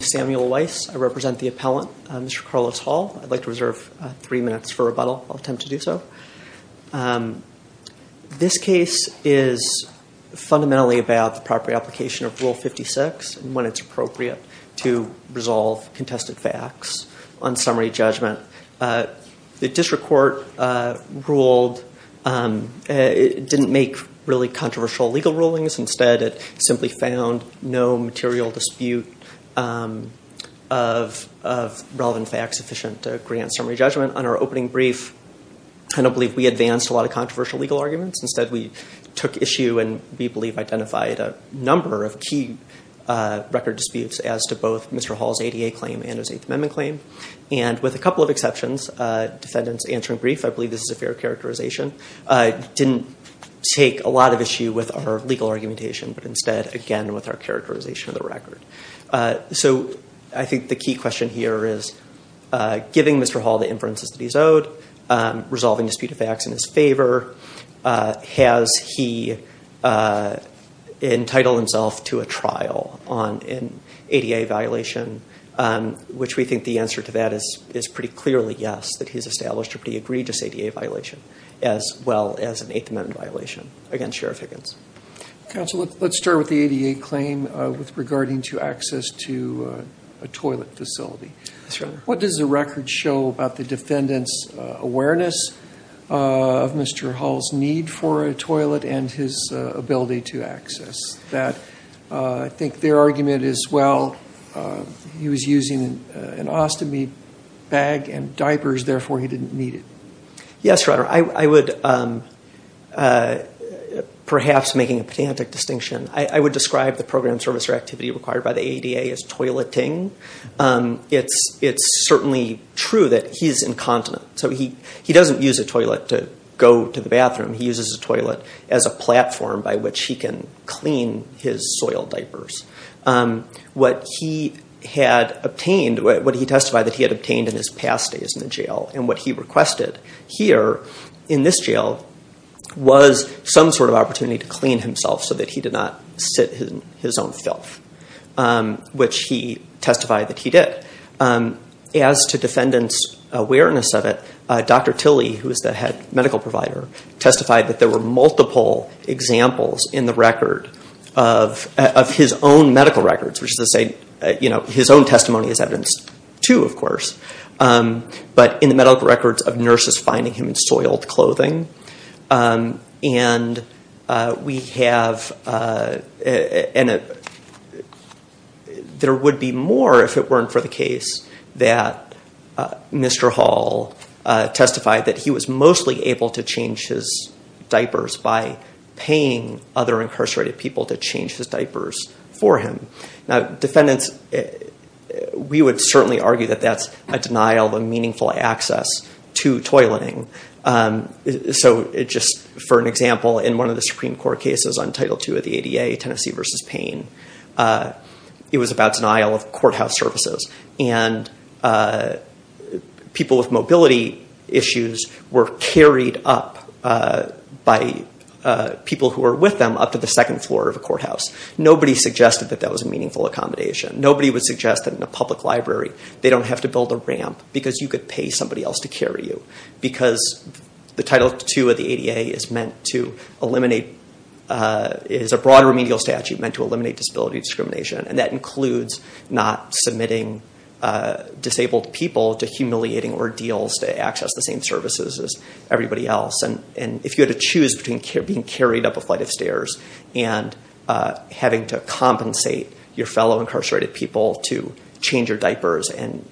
I represent the appellant, Mr. Carlos Hall. I'd like to reserve three minutes for rebuttal. I'll attempt to do so. This case is fundamentally about the proper application of Rule 56 and when it's appropriate to resolve contested facts on summary judgment. The district court didn't make really controversial legal rulings. Instead, it simply found no material dispute of relevant facts sufficient to grant summary judgment. On our opening brief, I don't believe we advanced a lot of controversial legal arguments. Instead, we took issue and we believe identified a number of key record disputes as to both Mr. Hall's ADA claim and his Eighth Amendment claim. With a couple of exceptions, defendants answering brief, I believe this is a fair characterization, didn't take a lot of issue with our legal argumentation. But instead, again, with our characterization of the record. So I think the key question here is, giving Mr. Hall the inferences that he's owed, resolving dispute of facts in his favor, has he entitled himself to a trial on an ADA violation? Which we think the answer to that is pretty clearly yes, that he's established a pretty egregious ADA violation as well as an Eighth Amendment violation against Sheriff Higgins. Counsel, let's start with the ADA claim with regarding to access to a toilet facility. What does the record show about the defendant's awareness of Mr. Hall's need for a toilet and his ability to access that? I think their argument is, well, he was using an ostomy bag and diapers, therefore he didn't need it. Yes, Your Honor. I would, perhaps making a pedantic distinction, I would describe the program service or activity required by the ADA as toileting. It's certainly true that he's incontinent. So he doesn't use a toilet to go to the bathroom. He uses a toilet as a platform by which he can clean his soil diapers. What he had obtained, what he testified that he had obtained in his past days in the jail and what he requested here in this jail was some sort of opportunity to clean himself so that he did not sit in his own filth, which he testified that he did. As to defendant's awareness of it, Dr. Tilly, who is the head medical provider, testified that there were multiple examples in the record of his own medical records, which is to say his own testimony is evidence, too, of course. But in the medical records of nurses finding him in soiled clothing. And there would be more if it weren't for the case that Mr. Hall testified that he was mostly able to change his diapers by paying other incarcerated people to change his diapers for him. Now, defendants, we would certainly argue that that's a denial of meaningful access to toileting. So just for an example, in one of the Supreme Court cases on Title II of the ADA, Tennessee v. Payne, it was about denial of courthouse services. And people with mobility issues were carried up by people who were with them up to the second floor of a courthouse. Nobody suggested that that was a meaningful accommodation. Nobody would suggest that in a public library they don't have to build a ramp because you could pay somebody else to carry you. Because the Title II of the ADA is a broad remedial statute meant to eliminate disability discrimination. And that includes not submitting disabled people to humiliating ordeals to access the same services as everybody else. And if you had to choose between being carried up a flight of stairs and having to compensate your fellow incarcerated people to change your diapers and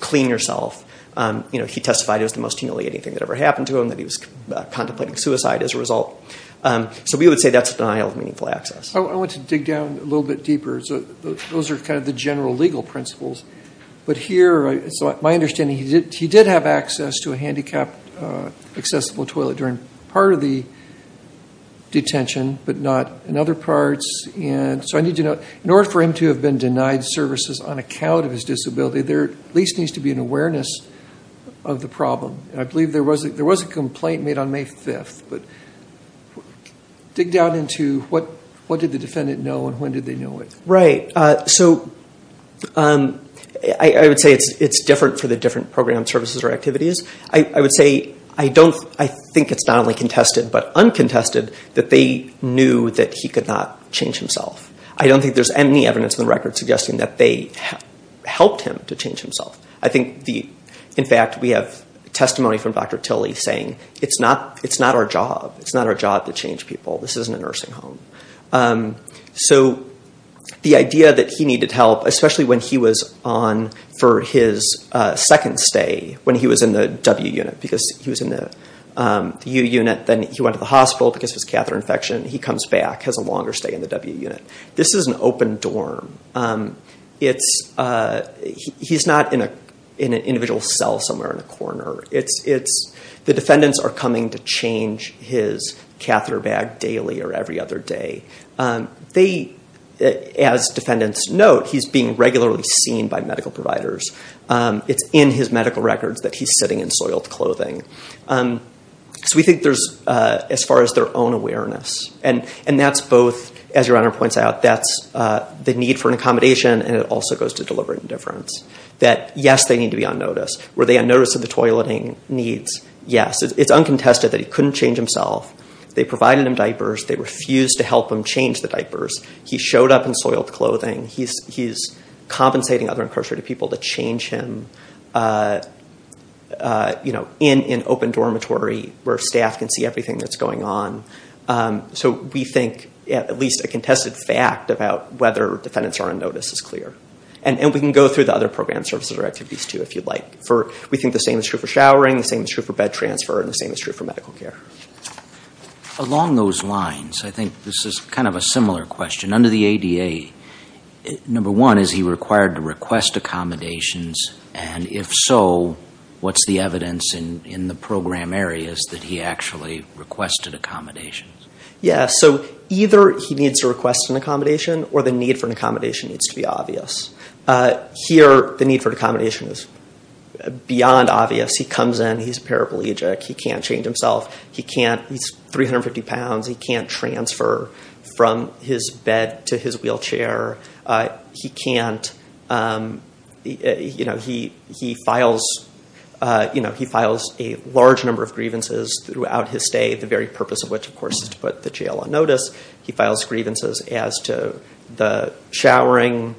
clean yourself, he testified it was the most humiliating thing that ever happened to him, that he was contemplating suicide as a result. So we would say that's a denial of meaningful access. I want to dig down a little bit deeper. Those are kind of the general legal principles. But here, it's my understanding he did have access to a handicapped accessible toilet during part of the detention, but not in other parts. And so I need to know, in order for him to have been denied services on account of his disability, there at least needs to be an awareness of the problem. And I believe there was a complaint made on May 5th. But dig down into what did the defendant know and when did they know it? Right. So I would say it's different for the different program services or activities. I would say I think it's not only contested but uncontested that they knew that he could not change himself. I don't think there's any evidence in the record suggesting that they helped him to change himself. I think, in fact, we have testimony from Dr. Tilley saying it's not our job. It's not our job to change people. This isn't a nursing home. So the idea that he needed help, especially when he was on for his second stay, when he was in the W unit, because he was in the U unit. Then he went to the hospital because of his catheter infection. He comes back, has a longer stay in the W unit. This is an open dorm. He's not in an individual cell somewhere in a corner. The defendants are coming to change his catheter bag daily or every other day. As defendants note, he's being regularly seen by medical providers. It's in his medical records that he's sitting in soiled clothing. So we think there's, as far as their own awareness, and that's both, as Your Honor points out, that's the need for an accommodation, and it also goes to deliberate indifference. That, yes, they need to be on notice. Were they on notice of the toileting needs? Yes. It's uncontested that he couldn't change himself. They provided him diapers. They refused to help him change the diapers. He showed up in soiled clothing. He's compensating other incarcerated people to change him in an open dormitory where staff can see everything that's going on. So we think at least a contested fact about whether defendants are on notice is clear. And we can go through the other program services or activities, too, if you'd like. We think the same is true for showering, the same is true for bed transfer, and the same is true for medical care. Along those lines, I think this is kind of a similar question. Under the ADA, number one, is he required to request accommodations? And if so, what's the evidence in the program areas that he actually requested accommodations? Yes. So either he needs to request an accommodation or the need for an accommodation needs to be obvious. Here, the need for an accommodation is beyond obvious. He comes in, he's a paraplegic, he can't change himself, he's 350 pounds, he can't transfer from his bed to his wheelchair, he files a large number of grievances throughout his stay, the very purpose of which, of course, is to put the jail on notice. He files grievances as to the showering,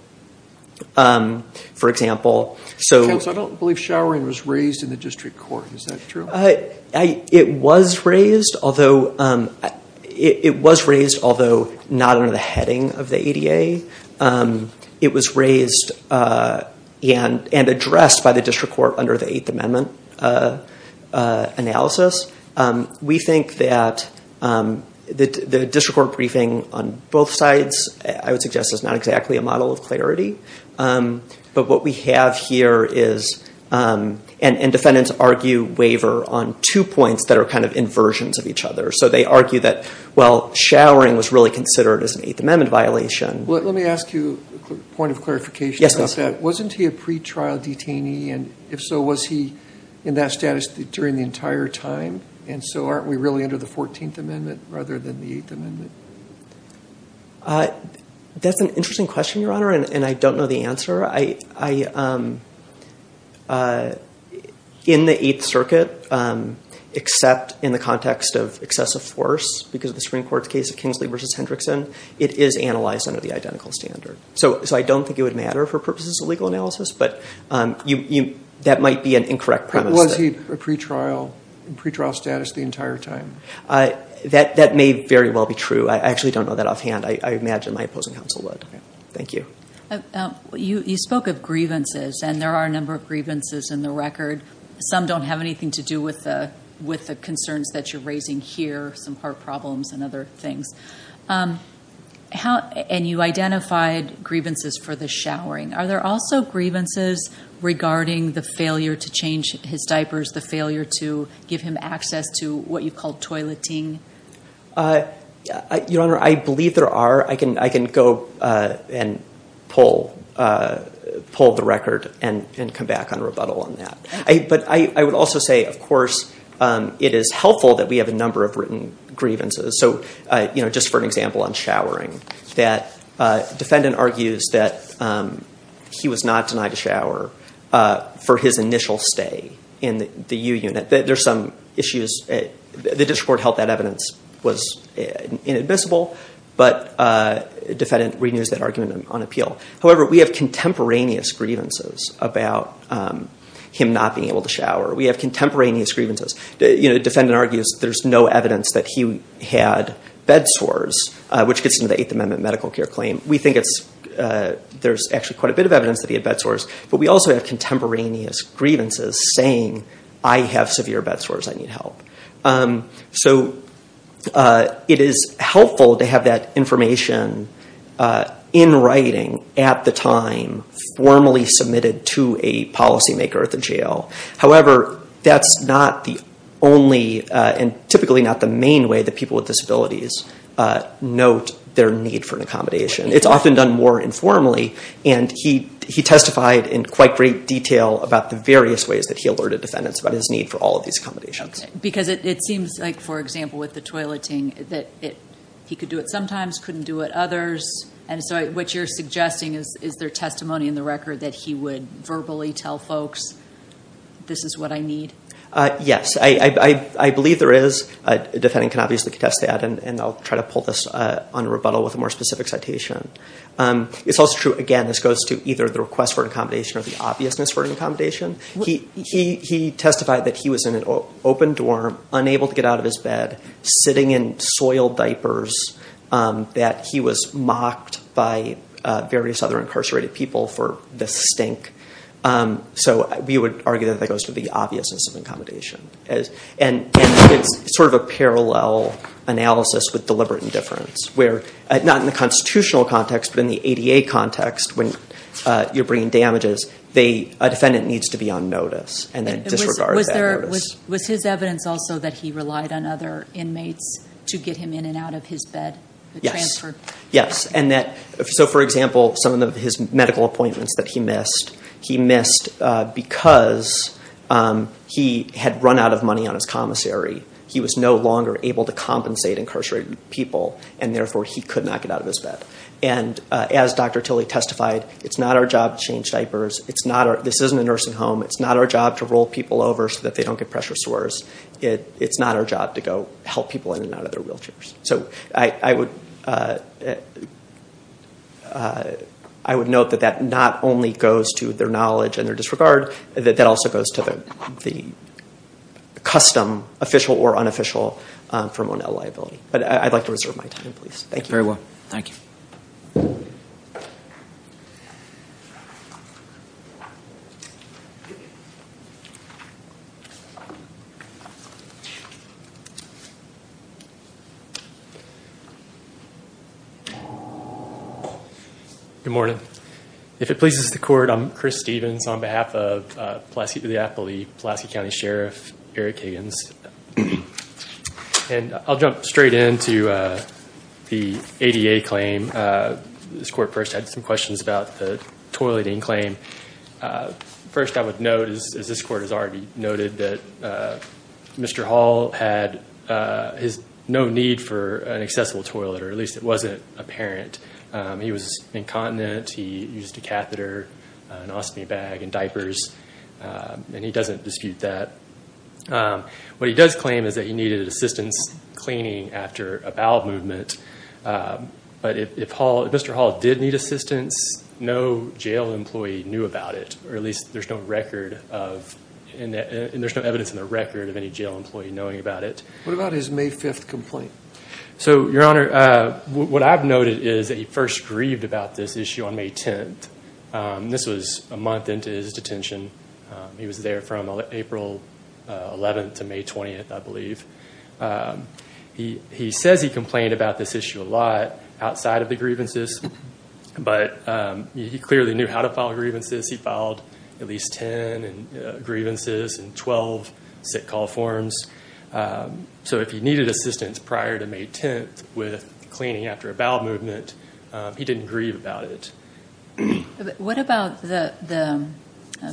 for example. Counsel, I don't believe showering was raised in the district court. Is that true? It was raised, although not under the heading of the ADA. It was raised and addressed by the district court under the Eighth Amendment analysis. We think that the district court briefing on both sides, I would suggest, is not exactly a model of clarity. But what we have here is, and defendants argue waiver on two points that are kind of inversions of each other. So they argue that, well, showering was really considered as an Eighth Amendment violation. Let me ask you a point of clarification about that. Wasn't he a pretrial detainee? And if so, was he in that status during the entire time? And so aren't we really under the Fourteenth Amendment rather than the Eighth Amendment? That's an interesting question, Your Honor, and I don't know the answer. In the Eighth Circuit, except in the context of excessive force because of the Supreme Court's case of Kingsley v. Hendrickson, it is analyzed under the identical standard. So I don't think it would matter for purposes of legal analysis, but that might be an incorrect premise. Was he in pretrial status the entire time? That may very well be true. I actually don't know that offhand. I imagine my opposing counsel would. Thank you. You spoke of grievances, and there are a number of grievances in the record. Some don't have anything to do with the concerns that you're raising here, some heart problems and other things. And you identified grievances for the showering. Are there also grievances regarding the failure to change his diapers, the failure to give him access to what you call toileting? Your Honor, I believe there are. I can go and pull the record and come back on rebuttal on that. But I would also say, of course, it is helpful that we have a number of written grievances. Just for an example on showering, the defendant argues that he was not denied a shower for his initial stay in the U Unit. There are some issues. The district court held that evidence was inadmissible, but the defendant renews that argument on appeal. However, we have contemporaneous grievances about him not being able to shower. We have contemporaneous grievances. The defendant argues there's no evidence that he had bed sores, which gets into the Eighth Amendment medical care claim. We think there's actually quite a bit of evidence that he had bed sores, but we also have contemporaneous grievances saying, I have severe bed sores, I need help. So it is helpful to have that information in writing at the time, formally submitted to a policymaker at the jail. However, that's not the only and typically not the main way that people with disabilities note their need for an accommodation. It's often done more informally. And he testified in quite great detail about the various ways that he alerted defendants about his need for all of these accommodations. Because it seems like, for example, with the toileting, that he could do it sometimes, couldn't do it others. And so what you're suggesting is, is there testimony in the record that he would verbally tell folks, this is what I need? Yes, I believe there is. A defendant can obviously contest that, and I'll try to pull this on rebuttal with a more specific citation. It's also true, again, this goes to either the request for an accommodation or the obviousness for an accommodation. He testified that he was in an open dorm, unable to get out of his bed, sitting in soiled diapers, that he was mocked by various other incarcerated people for the stink. So we would argue that that goes to the obviousness of accommodation. And it's sort of a parallel analysis with deliberate indifference, where not in the constitutional context, but in the ADA context, when you're bringing damages, a defendant needs to be on notice and then disregard that notice. Was his evidence also that he relied on other inmates to get him in and out of his bed? Yes. So, for example, some of his medical appointments that he missed, he missed because he had run out of money on his commissary. He was no longer able to compensate incarcerated people, and therefore he could not get out of his bed. And as Dr. Tilley testified, it's not our job to change diapers. This isn't a nursing home. It's not our job to roll people over so that they don't get pressure sores. It's not our job to go help people in and out of their wheelchairs. So I would note that that not only goes to their knowledge and their disregard, that that also goes to the custom, official or unofficial, for Monell liability. But I'd like to reserve my time, please. Thank you. Very well. Thank you. Good morning. If it pleases the court, I'm Chris Stevens on behalf of Pulaski County Sheriff Eric Higgins. And I'll jump straight into the ADA claim. This court first had some questions about the toileting claim. First, I would note, as this court has already noted, that Mr. Hall had no need for an accessible toilet, or at least it wasn't apparent. He was incontinent. He used a catheter, an ostomy bag and diapers, and he doesn't dispute that. What he does claim is that he needed assistance cleaning after a bowel movement. But if Mr. Hall did need assistance, no jail employee knew about it, or at least there's no record of, and there's no evidence in the record of any jail employee knowing about it. What about his May 5th complaint? So, Your Honor, what I've noted is that he first grieved about this issue on May 10th. This was a month into his detention. He was there from April 11th to May 20th, I believe. He says he complained about this issue a lot outside of the grievances, but he clearly knew how to file grievances. He filed at least 10 grievances and 12 sick call forms. So if he needed assistance prior to May 10th with cleaning after a bowel movement, he didn't grieve about it. What about the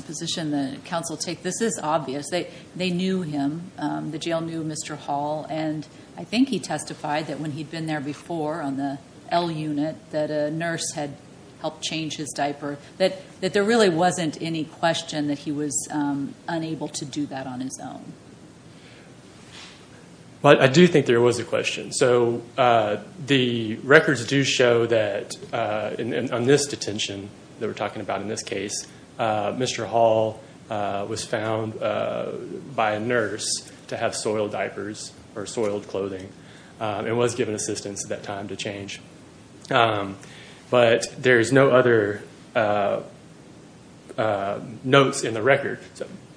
position that counsel take? This is obvious. They knew him. The jail knew Mr. Hall, and I think he testified that when he'd been there before on the L unit, that a nurse had helped change his diaper, that there really wasn't any question that he was unable to do that on his own. I do think there was a question. So the records do show that on this detention that we're talking about in this case, Mr. Hall was found by a nurse to have soiled diapers or soiled clothing and was given assistance at that time to change. But there's no other notes in the record.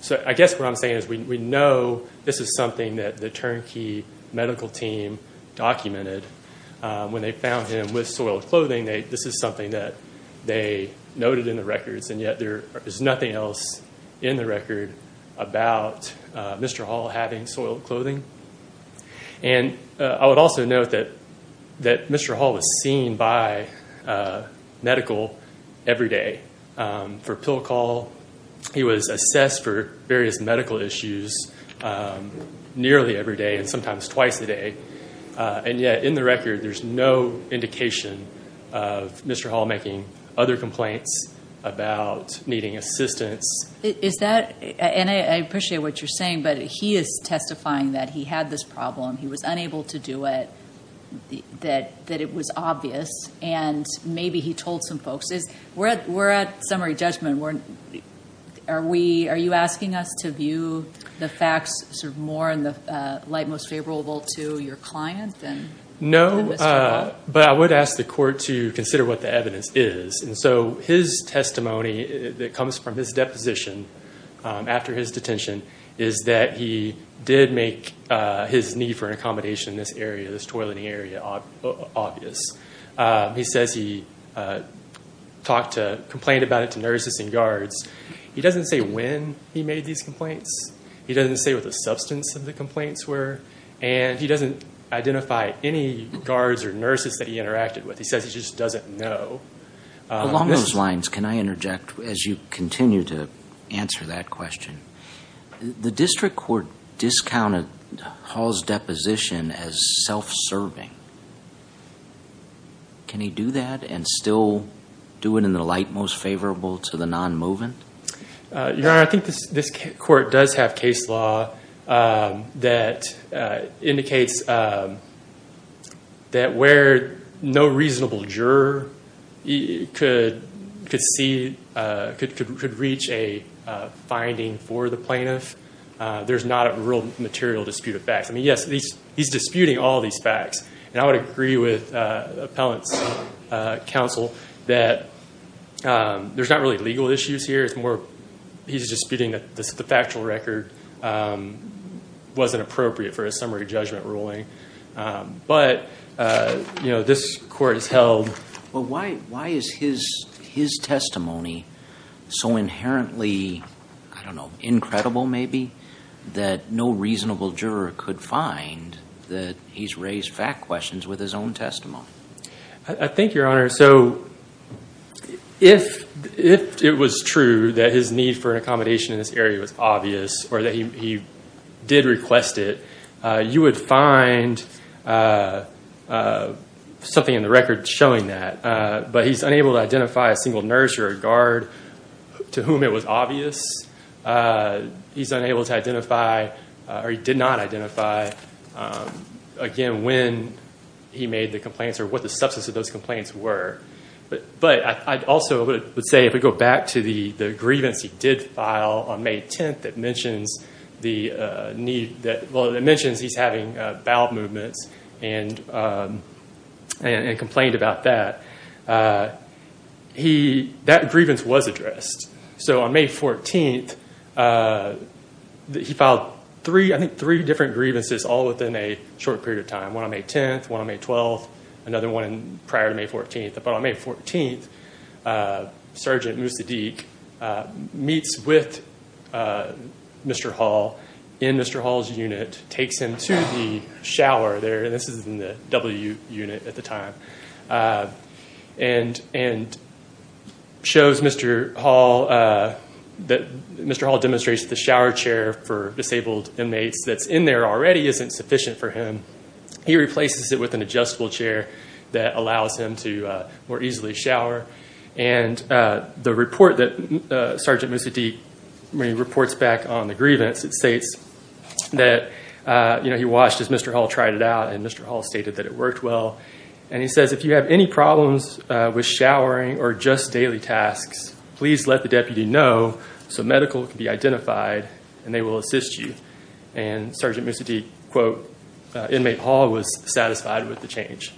So I guess what I'm saying is we know this is something that the turnkey medical team documented. When they found him with soiled clothing, this is something that they noted in the records, and yet there is nothing else in the record about Mr. Hall having soiled clothing. And I would also note that Mr. Hall was seen by medical every day for pill call. He was assessed for various medical issues nearly every day and sometimes twice a day, and yet in the record there's no indication of Mr. Hall making other complaints about needing assistance. Is that, and I appreciate what you're saying, but he is testifying that he had this problem. He was unable to do it, that it was obvious, and maybe he told some folks. We're at summary judgment. Are you asking us to view the facts sort of more in the light most favorable to your client than Mr. Hall? No, but I would ask the court to consider what the evidence is. And so his testimony that comes from his deposition after his detention is that he did make his need for an accommodation in this area, this toileting area, obvious. He says he complained about it to nurses and guards. He doesn't say when he made these complaints. He doesn't say what the substance of the complaints were, and he doesn't identify any guards or nurses that he interacted with. He says he just doesn't know. Along those lines, can I interject as you continue to answer that question? The district court discounted Hall's deposition as self-serving. Can he do that and still do it in the light most favorable to the non-movement? Your Honor, I think this court does have case law that indicates that where no reasonable juror could reach a finding for the plaintiff, there's not a real material dispute of facts. I mean, yes, he's disputing all these facts, and I would agree with Appellant's counsel that there's not really legal issues here. It's more he's disputing that the factual record wasn't appropriate for a summary judgment ruling. But, you know, this court has held. Well, why is his testimony so inherently, I don't know, incredible maybe, that no reasonable juror could find that he's raised fact questions with his own testimony? I think, Your Honor, so if it was true that his need for an accommodation in this area was obvious or that he did request it, you would find something in the record showing that. But he's unable to identify a single nurse or a guard to whom it was obvious. He's unable to identify, or he did not identify, again, when he made the complaints or what the substance of those complaints were. But I also would say, if we go back to the grievance he did file on May 10th that mentions he's having bowel movements and complained about that, that grievance was addressed. So on May 14th, he filed three, I think, three different grievances all within a short period of time, one on May 10th, one on May 12th, another one prior to May 14th. But on May 14th, Sergeant Musaddiq meets with Mr. Hall in Mr. Hall's unit, takes him to the shower there, and this is in the W unit at the time, and shows Mr. Hall that Mr. Hall demonstrates the shower chair for disabled inmates that's in there already isn't sufficient for him. He replaces it with an adjustable chair that allows him to more easily shower. And the report that Sergeant Musaddiq reports back on the grievance, it states that he watched as Mr. Hall tried it out and Mr. Hall stated that it worked well. And he says, if you have any problems with showering or just daily tasks, please let the deputy know so medical can be identified and they will assist you. And Sergeant Musaddiq, quote, Inmate Hall was satisfied with the change.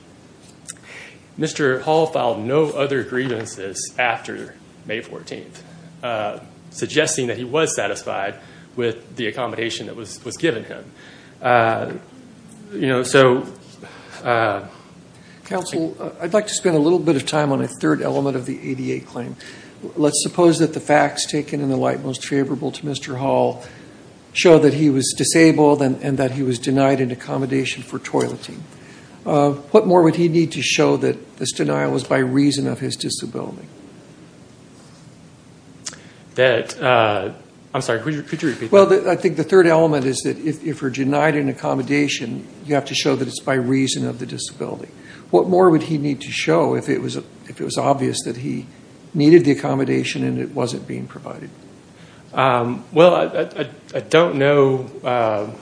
Mr. Hall filed no other grievances after May 14th, suggesting that he was satisfied with the accommodation that was given him. Counsel, I'd like to spend a little bit of time on a third element of the ADA claim. Let's suppose that the facts taken in the light most favorable to Mr. Hall show that he was disabled and that he was denied an accommodation for toileting. What more would he need to show that this denial was by reason of his disability? I'm sorry, could you repeat that? Well, I think the third element is that if you're denied an accommodation, you have to show that it's by reason of the disability. What more would he need to show if it was obvious that he needed the accommodation and it wasn't being provided? Well, I don't know.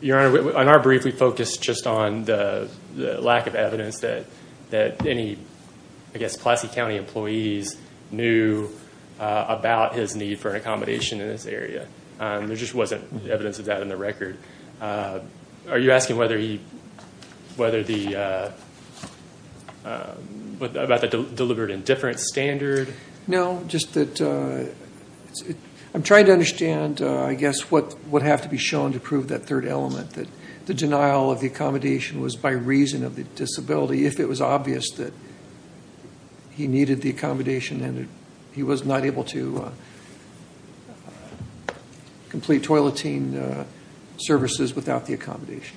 Your Honor, on our brief, we focused just on the lack of evidence that any, I guess, Pulaski County employees knew about his need for an accommodation in this area. There just wasn't evidence of that in the record. Are you asking whether he, whether the, about the deliberate indifference standard? No, just that I'm trying to understand, I guess, what would have to be shown to prove that third element, that the denial of the accommodation was by reason of the disability if it was obvious that he needed the accommodation and he was not able to complete toileting services without the accommodation.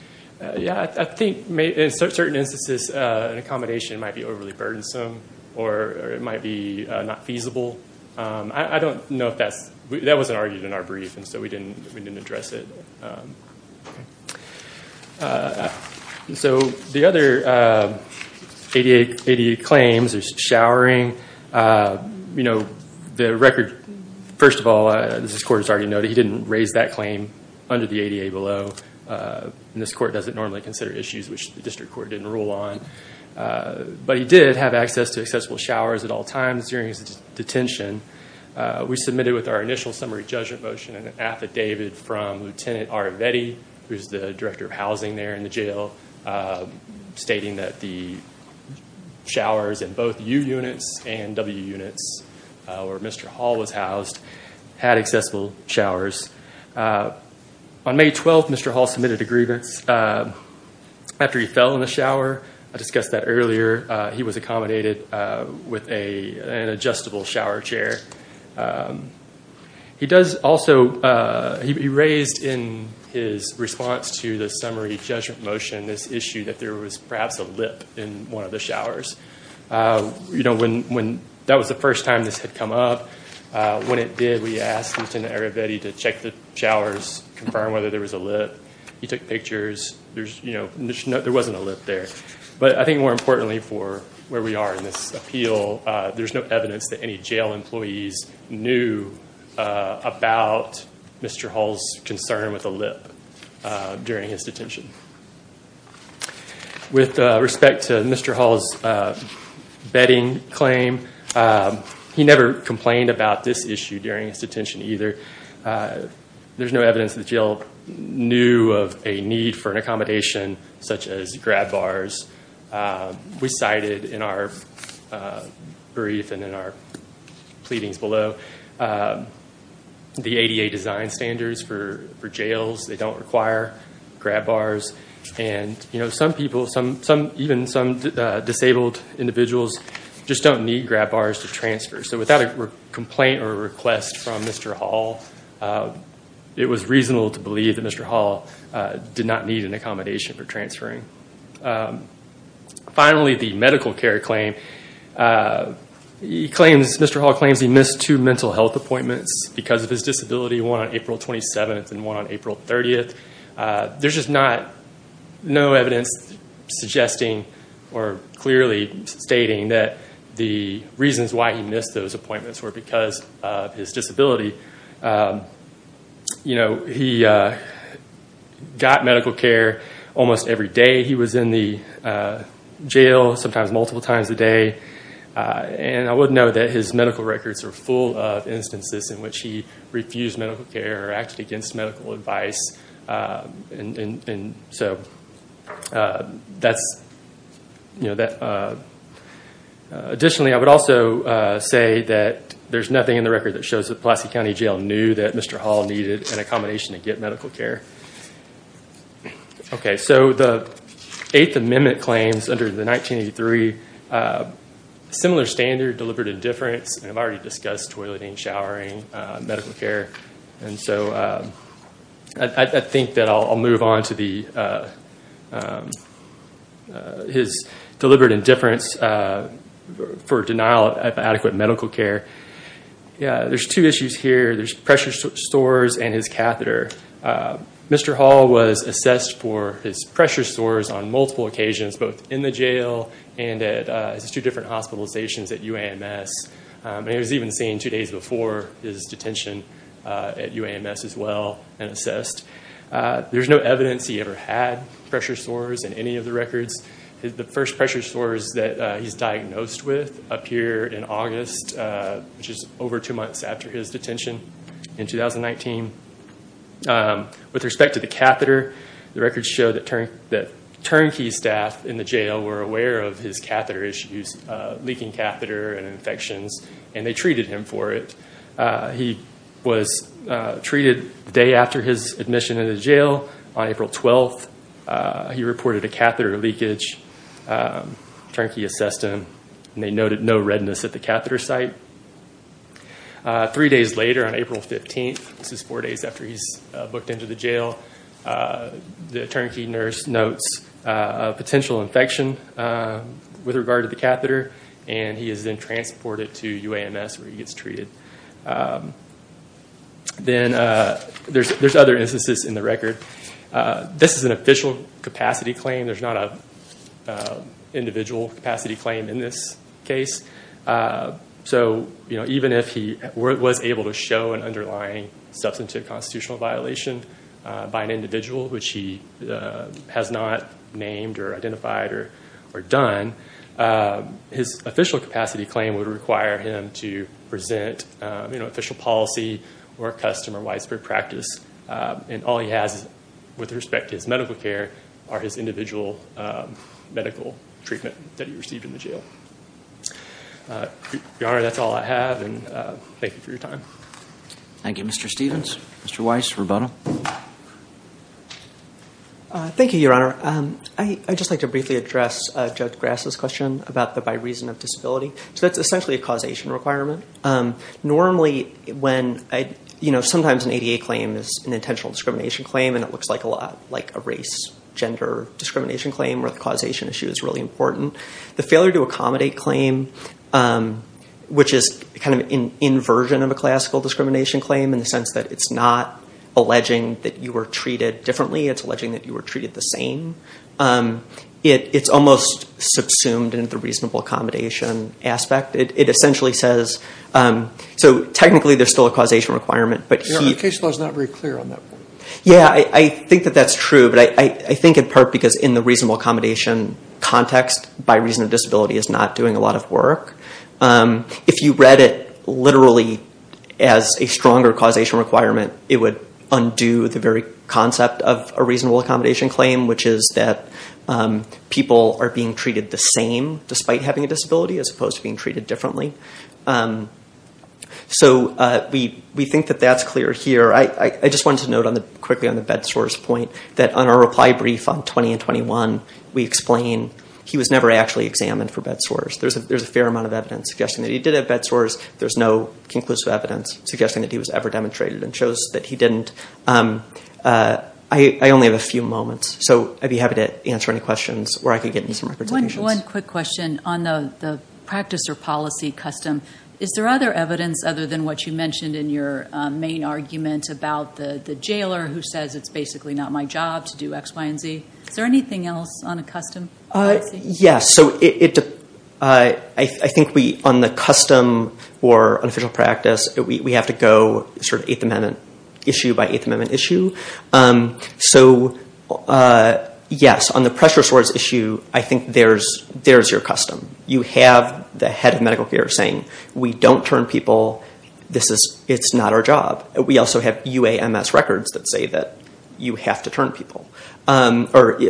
Yeah, I think in certain instances, an accommodation might be overly burdensome or it might be not feasible. I don't know if that's, that wasn't argued in our brief and so we didn't address it. So the other ADA claims, there's showering. You know, the record, first of all, as this Court has already noted, he didn't raise that claim under the ADA below. This Court doesn't normally consider issues which the District Court didn't rule on. But he did have access to accessible showers at all times during his detention. We submitted with our initial summary judgment motion an affidavit from Lieutenant R. Vetti, who's the Director of Housing there in the jail, stating that the showers in both U units and W units, where Mr. Hall was housed, had accessible showers. On May 12th, Mr. Hall submitted a grievance after he fell in the shower. I discussed that earlier. He was accommodated with an adjustable shower chair. He does also, he raised in his response to the summary judgment motion, this issue that there was perhaps a lip in one of the showers. You know, that was the first time this had come up. When it did, we asked Lieutenant R. Vetti to check the showers, confirm whether there was a lip. He took pictures. There's, you know, there wasn't a lip there. But I think more importantly for where we are in this appeal, there's no evidence that any jail employees knew about Mr. Hall's concern with a lip during his detention. With respect to Mr. Hall's betting claim, he never complained about this issue during his detention either. There's no evidence that the jail knew of a need for an accommodation such as grab bars. We cited in our brief and in our pleadings below the ADA design standards for jails. They don't require grab bars. And, you know, some people, even some disabled individuals just don't need grab bars to transfer. So without a complaint or a request from Mr. Hall, it was reasonable to believe that Mr. Hall did not need an accommodation for transferring. Finally, the medical care claim. He claims, Mr. Hall claims he missed two mental health appointments because of his disability, one on April 27th and one on April 30th. There's just not, no evidence suggesting or clearly stating that the reasons why he missed those appointments were because of his disability. You know, he got medical care almost every day. He was in the jail sometimes multiple times a day. And I would note that his medical records are full of instances in which he refused medical care or acted against medical advice. Additionally, I would also say that there's nothing in the record that shows that Pulaski County Jail knew that Mr. Hall needed an accommodation to get medical care. Okay, so the Eighth Amendment claims under the 1983. Similar standard, deliberate indifference. And I've already discussed toileting, showering, medical care. And so I think that I'll move on to his deliberate indifference for denial of adequate medical care. Yeah, there's two issues here. There's pressure stores and his catheter. Mr. Hall was assessed for his pressure sores on multiple occasions, both in the jail and at his two different hospitalizations at UAMS. And he was even seen two days before his detention at UAMS as well and assessed. There's no evidence he ever had pressure sores in any of the records. The first pressure sores that he's diagnosed with appear in August, which is over two months after his detention in 2019. With respect to the catheter, the records show that Turnkey staff in the jail were aware of his catheter issues, leaking catheter and infections, and they treated him for it. He was treated the day after his admission into jail. On April 12th, he reported a catheter leakage. Turnkey assessed him and they noted no redness at the catheter site. Three days later, on April 15th, this is four days after he's booked into the jail, the Turnkey nurse notes a potential infection with regard to the catheter and he is then transported to UAMS where he gets treated. Then there's other instances in the record. This is an official capacity claim. There's not an individual capacity claim in this case. Even if he was able to show an underlying substantive constitutional violation by an individual, which he has not named or identified or done, his official capacity claim would require him to present official policy or a custom or widespread practice. All he has with respect to his medical care are his individual medical treatment that he received in the jail. Your Honor, that's all I have. Thank you for your time. Thank you, Mr. Stephens. Mr. Weiss, rebuttal. Thank you, Your Honor. I'd just like to briefly address Judge Grass's question about the by reason of disability. That's essentially a causation requirement. Normally, sometimes an ADA claim is an intentional discrimination claim and it looks a lot like a race, gender discrimination claim where the causation issue is really important. The failure to accommodate claim, which is kind of an inversion of a classical discrimination claim in the sense that it's not alleging that you were treated differently. It's alleging that you were treated the same. It's almost subsumed in the reasonable accommodation aspect. Technically, there's still a causation requirement. Your Honor, the case law is not very clear on that one. Yeah, I think that that's true, but I think in part because in the reasonable accommodation context, by reason of disability is not doing a lot of work. If you read it literally as a stronger causation requirement, it would undo the very concept of a reasonable accommodation claim, which is that people are being treated the same despite having a disability as opposed to being treated differently. We think that that's clear here. I just wanted to note quickly on the bed sores point that on our reply brief on 20 and 21, we explain he was never actually examined for bed sores. There's a fair amount of evidence suggesting that he did have bed sores. There's no conclusive evidence suggesting that he was ever demonstrated and shows that he didn't. I only have a few moments, so I'd be happy to answer any questions or I could get into some representations. One quick question on the practice or policy custom. Is there other evidence other than what you mentioned in your main argument about the jailer who says, it's basically not my job to do X, Y, and Z? Is there anything else on a custom policy? Yes. I think on the custom or unofficial practice, we have to go sort of 8th Amendment issue by 8th Amendment issue. So yes, on the pressure sores issue, I think there's your custom. You have the head of medical care saying, we don't turn people, it's not our job. We also have UAMS records that say that you have to turn people. Because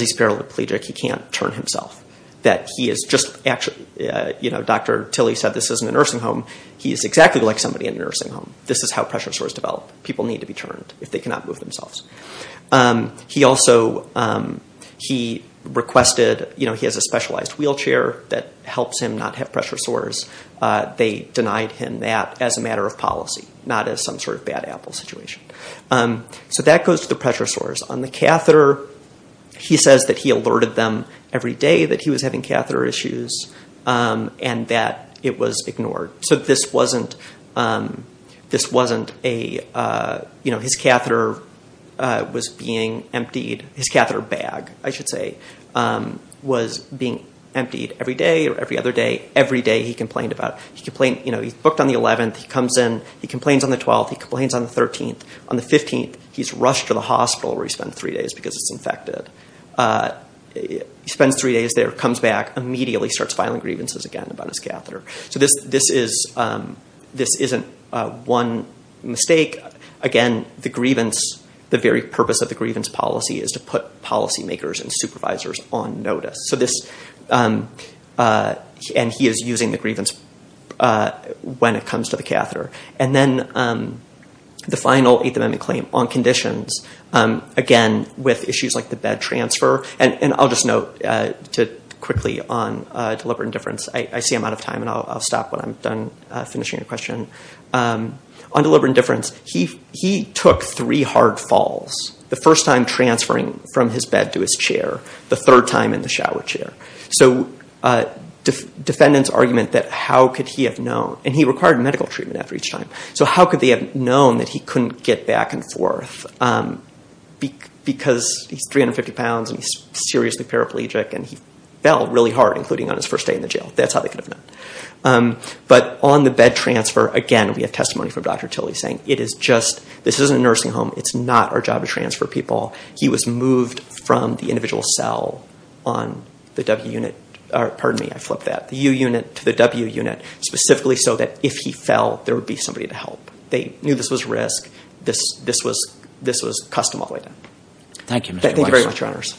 he's paralegic, he can't turn himself. Dr. Tilly said this isn't a nursing home. He's exactly like somebody in a nursing home. This is how pressure sores develop. People need to be turned if they cannot move themselves. He also requested, he has a specialized wheelchair that helps him not have pressure sores. They denied him that as a matter of policy, not as some sort of bad apple situation. So that goes to the pressure sores. On the catheter, he says that he alerted them every day that he was having catheter issues and that it was ignored. So this wasn't a, you know, his catheter was being emptied. His catheter bag, I should say, was being emptied every day or every other day. Every day he complained about it. He complained, you know, he's booked on the 11th, he comes in, he complains on the 12th, he complains on the 13th. On the 15th, he's rushed to the hospital where he spent three days because it's infected. He spends three days there, comes back, immediately starts filing grievances again about his catheter. So this isn't one mistake. Again, the very purpose of the grievance policy is to put policymakers and supervisors on notice. And he is using the grievance when it comes to the catheter. And then the final Eighth Amendment claim on conditions, again, with issues like the bed transfer. And I'll just note quickly on deliberate indifference. I see I'm out of time and I'll stop when I'm done finishing a question. On deliberate indifference, he took three hard falls. The first time transferring from his bed to his chair, the third time in the shower chair. So defendants' argument that how could he have known, and he required medical treatment after each time, so how could they have known that he couldn't get back and forth because he's 350 pounds and he's seriously paraplegic and he fell really hard, including on his first day in the jail. That's how they could have known. But on the bed transfer, again, we have testimony from Dr. Tilley saying it is just, this isn't a nursing home. It's not our job to transfer people. He was moved from the individual cell on the W unit. Pardon me, I flipped that. The U unit to the W unit, specifically so that if he fell, there would be somebody to help. They knew this was risk. This was custom all the way down. Thank you, Mr. Weiss. Thank you very much, Your Honors.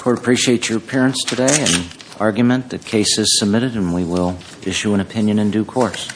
Court appreciates your appearance today and argument that case is submitted and we will issue an opinion in due course.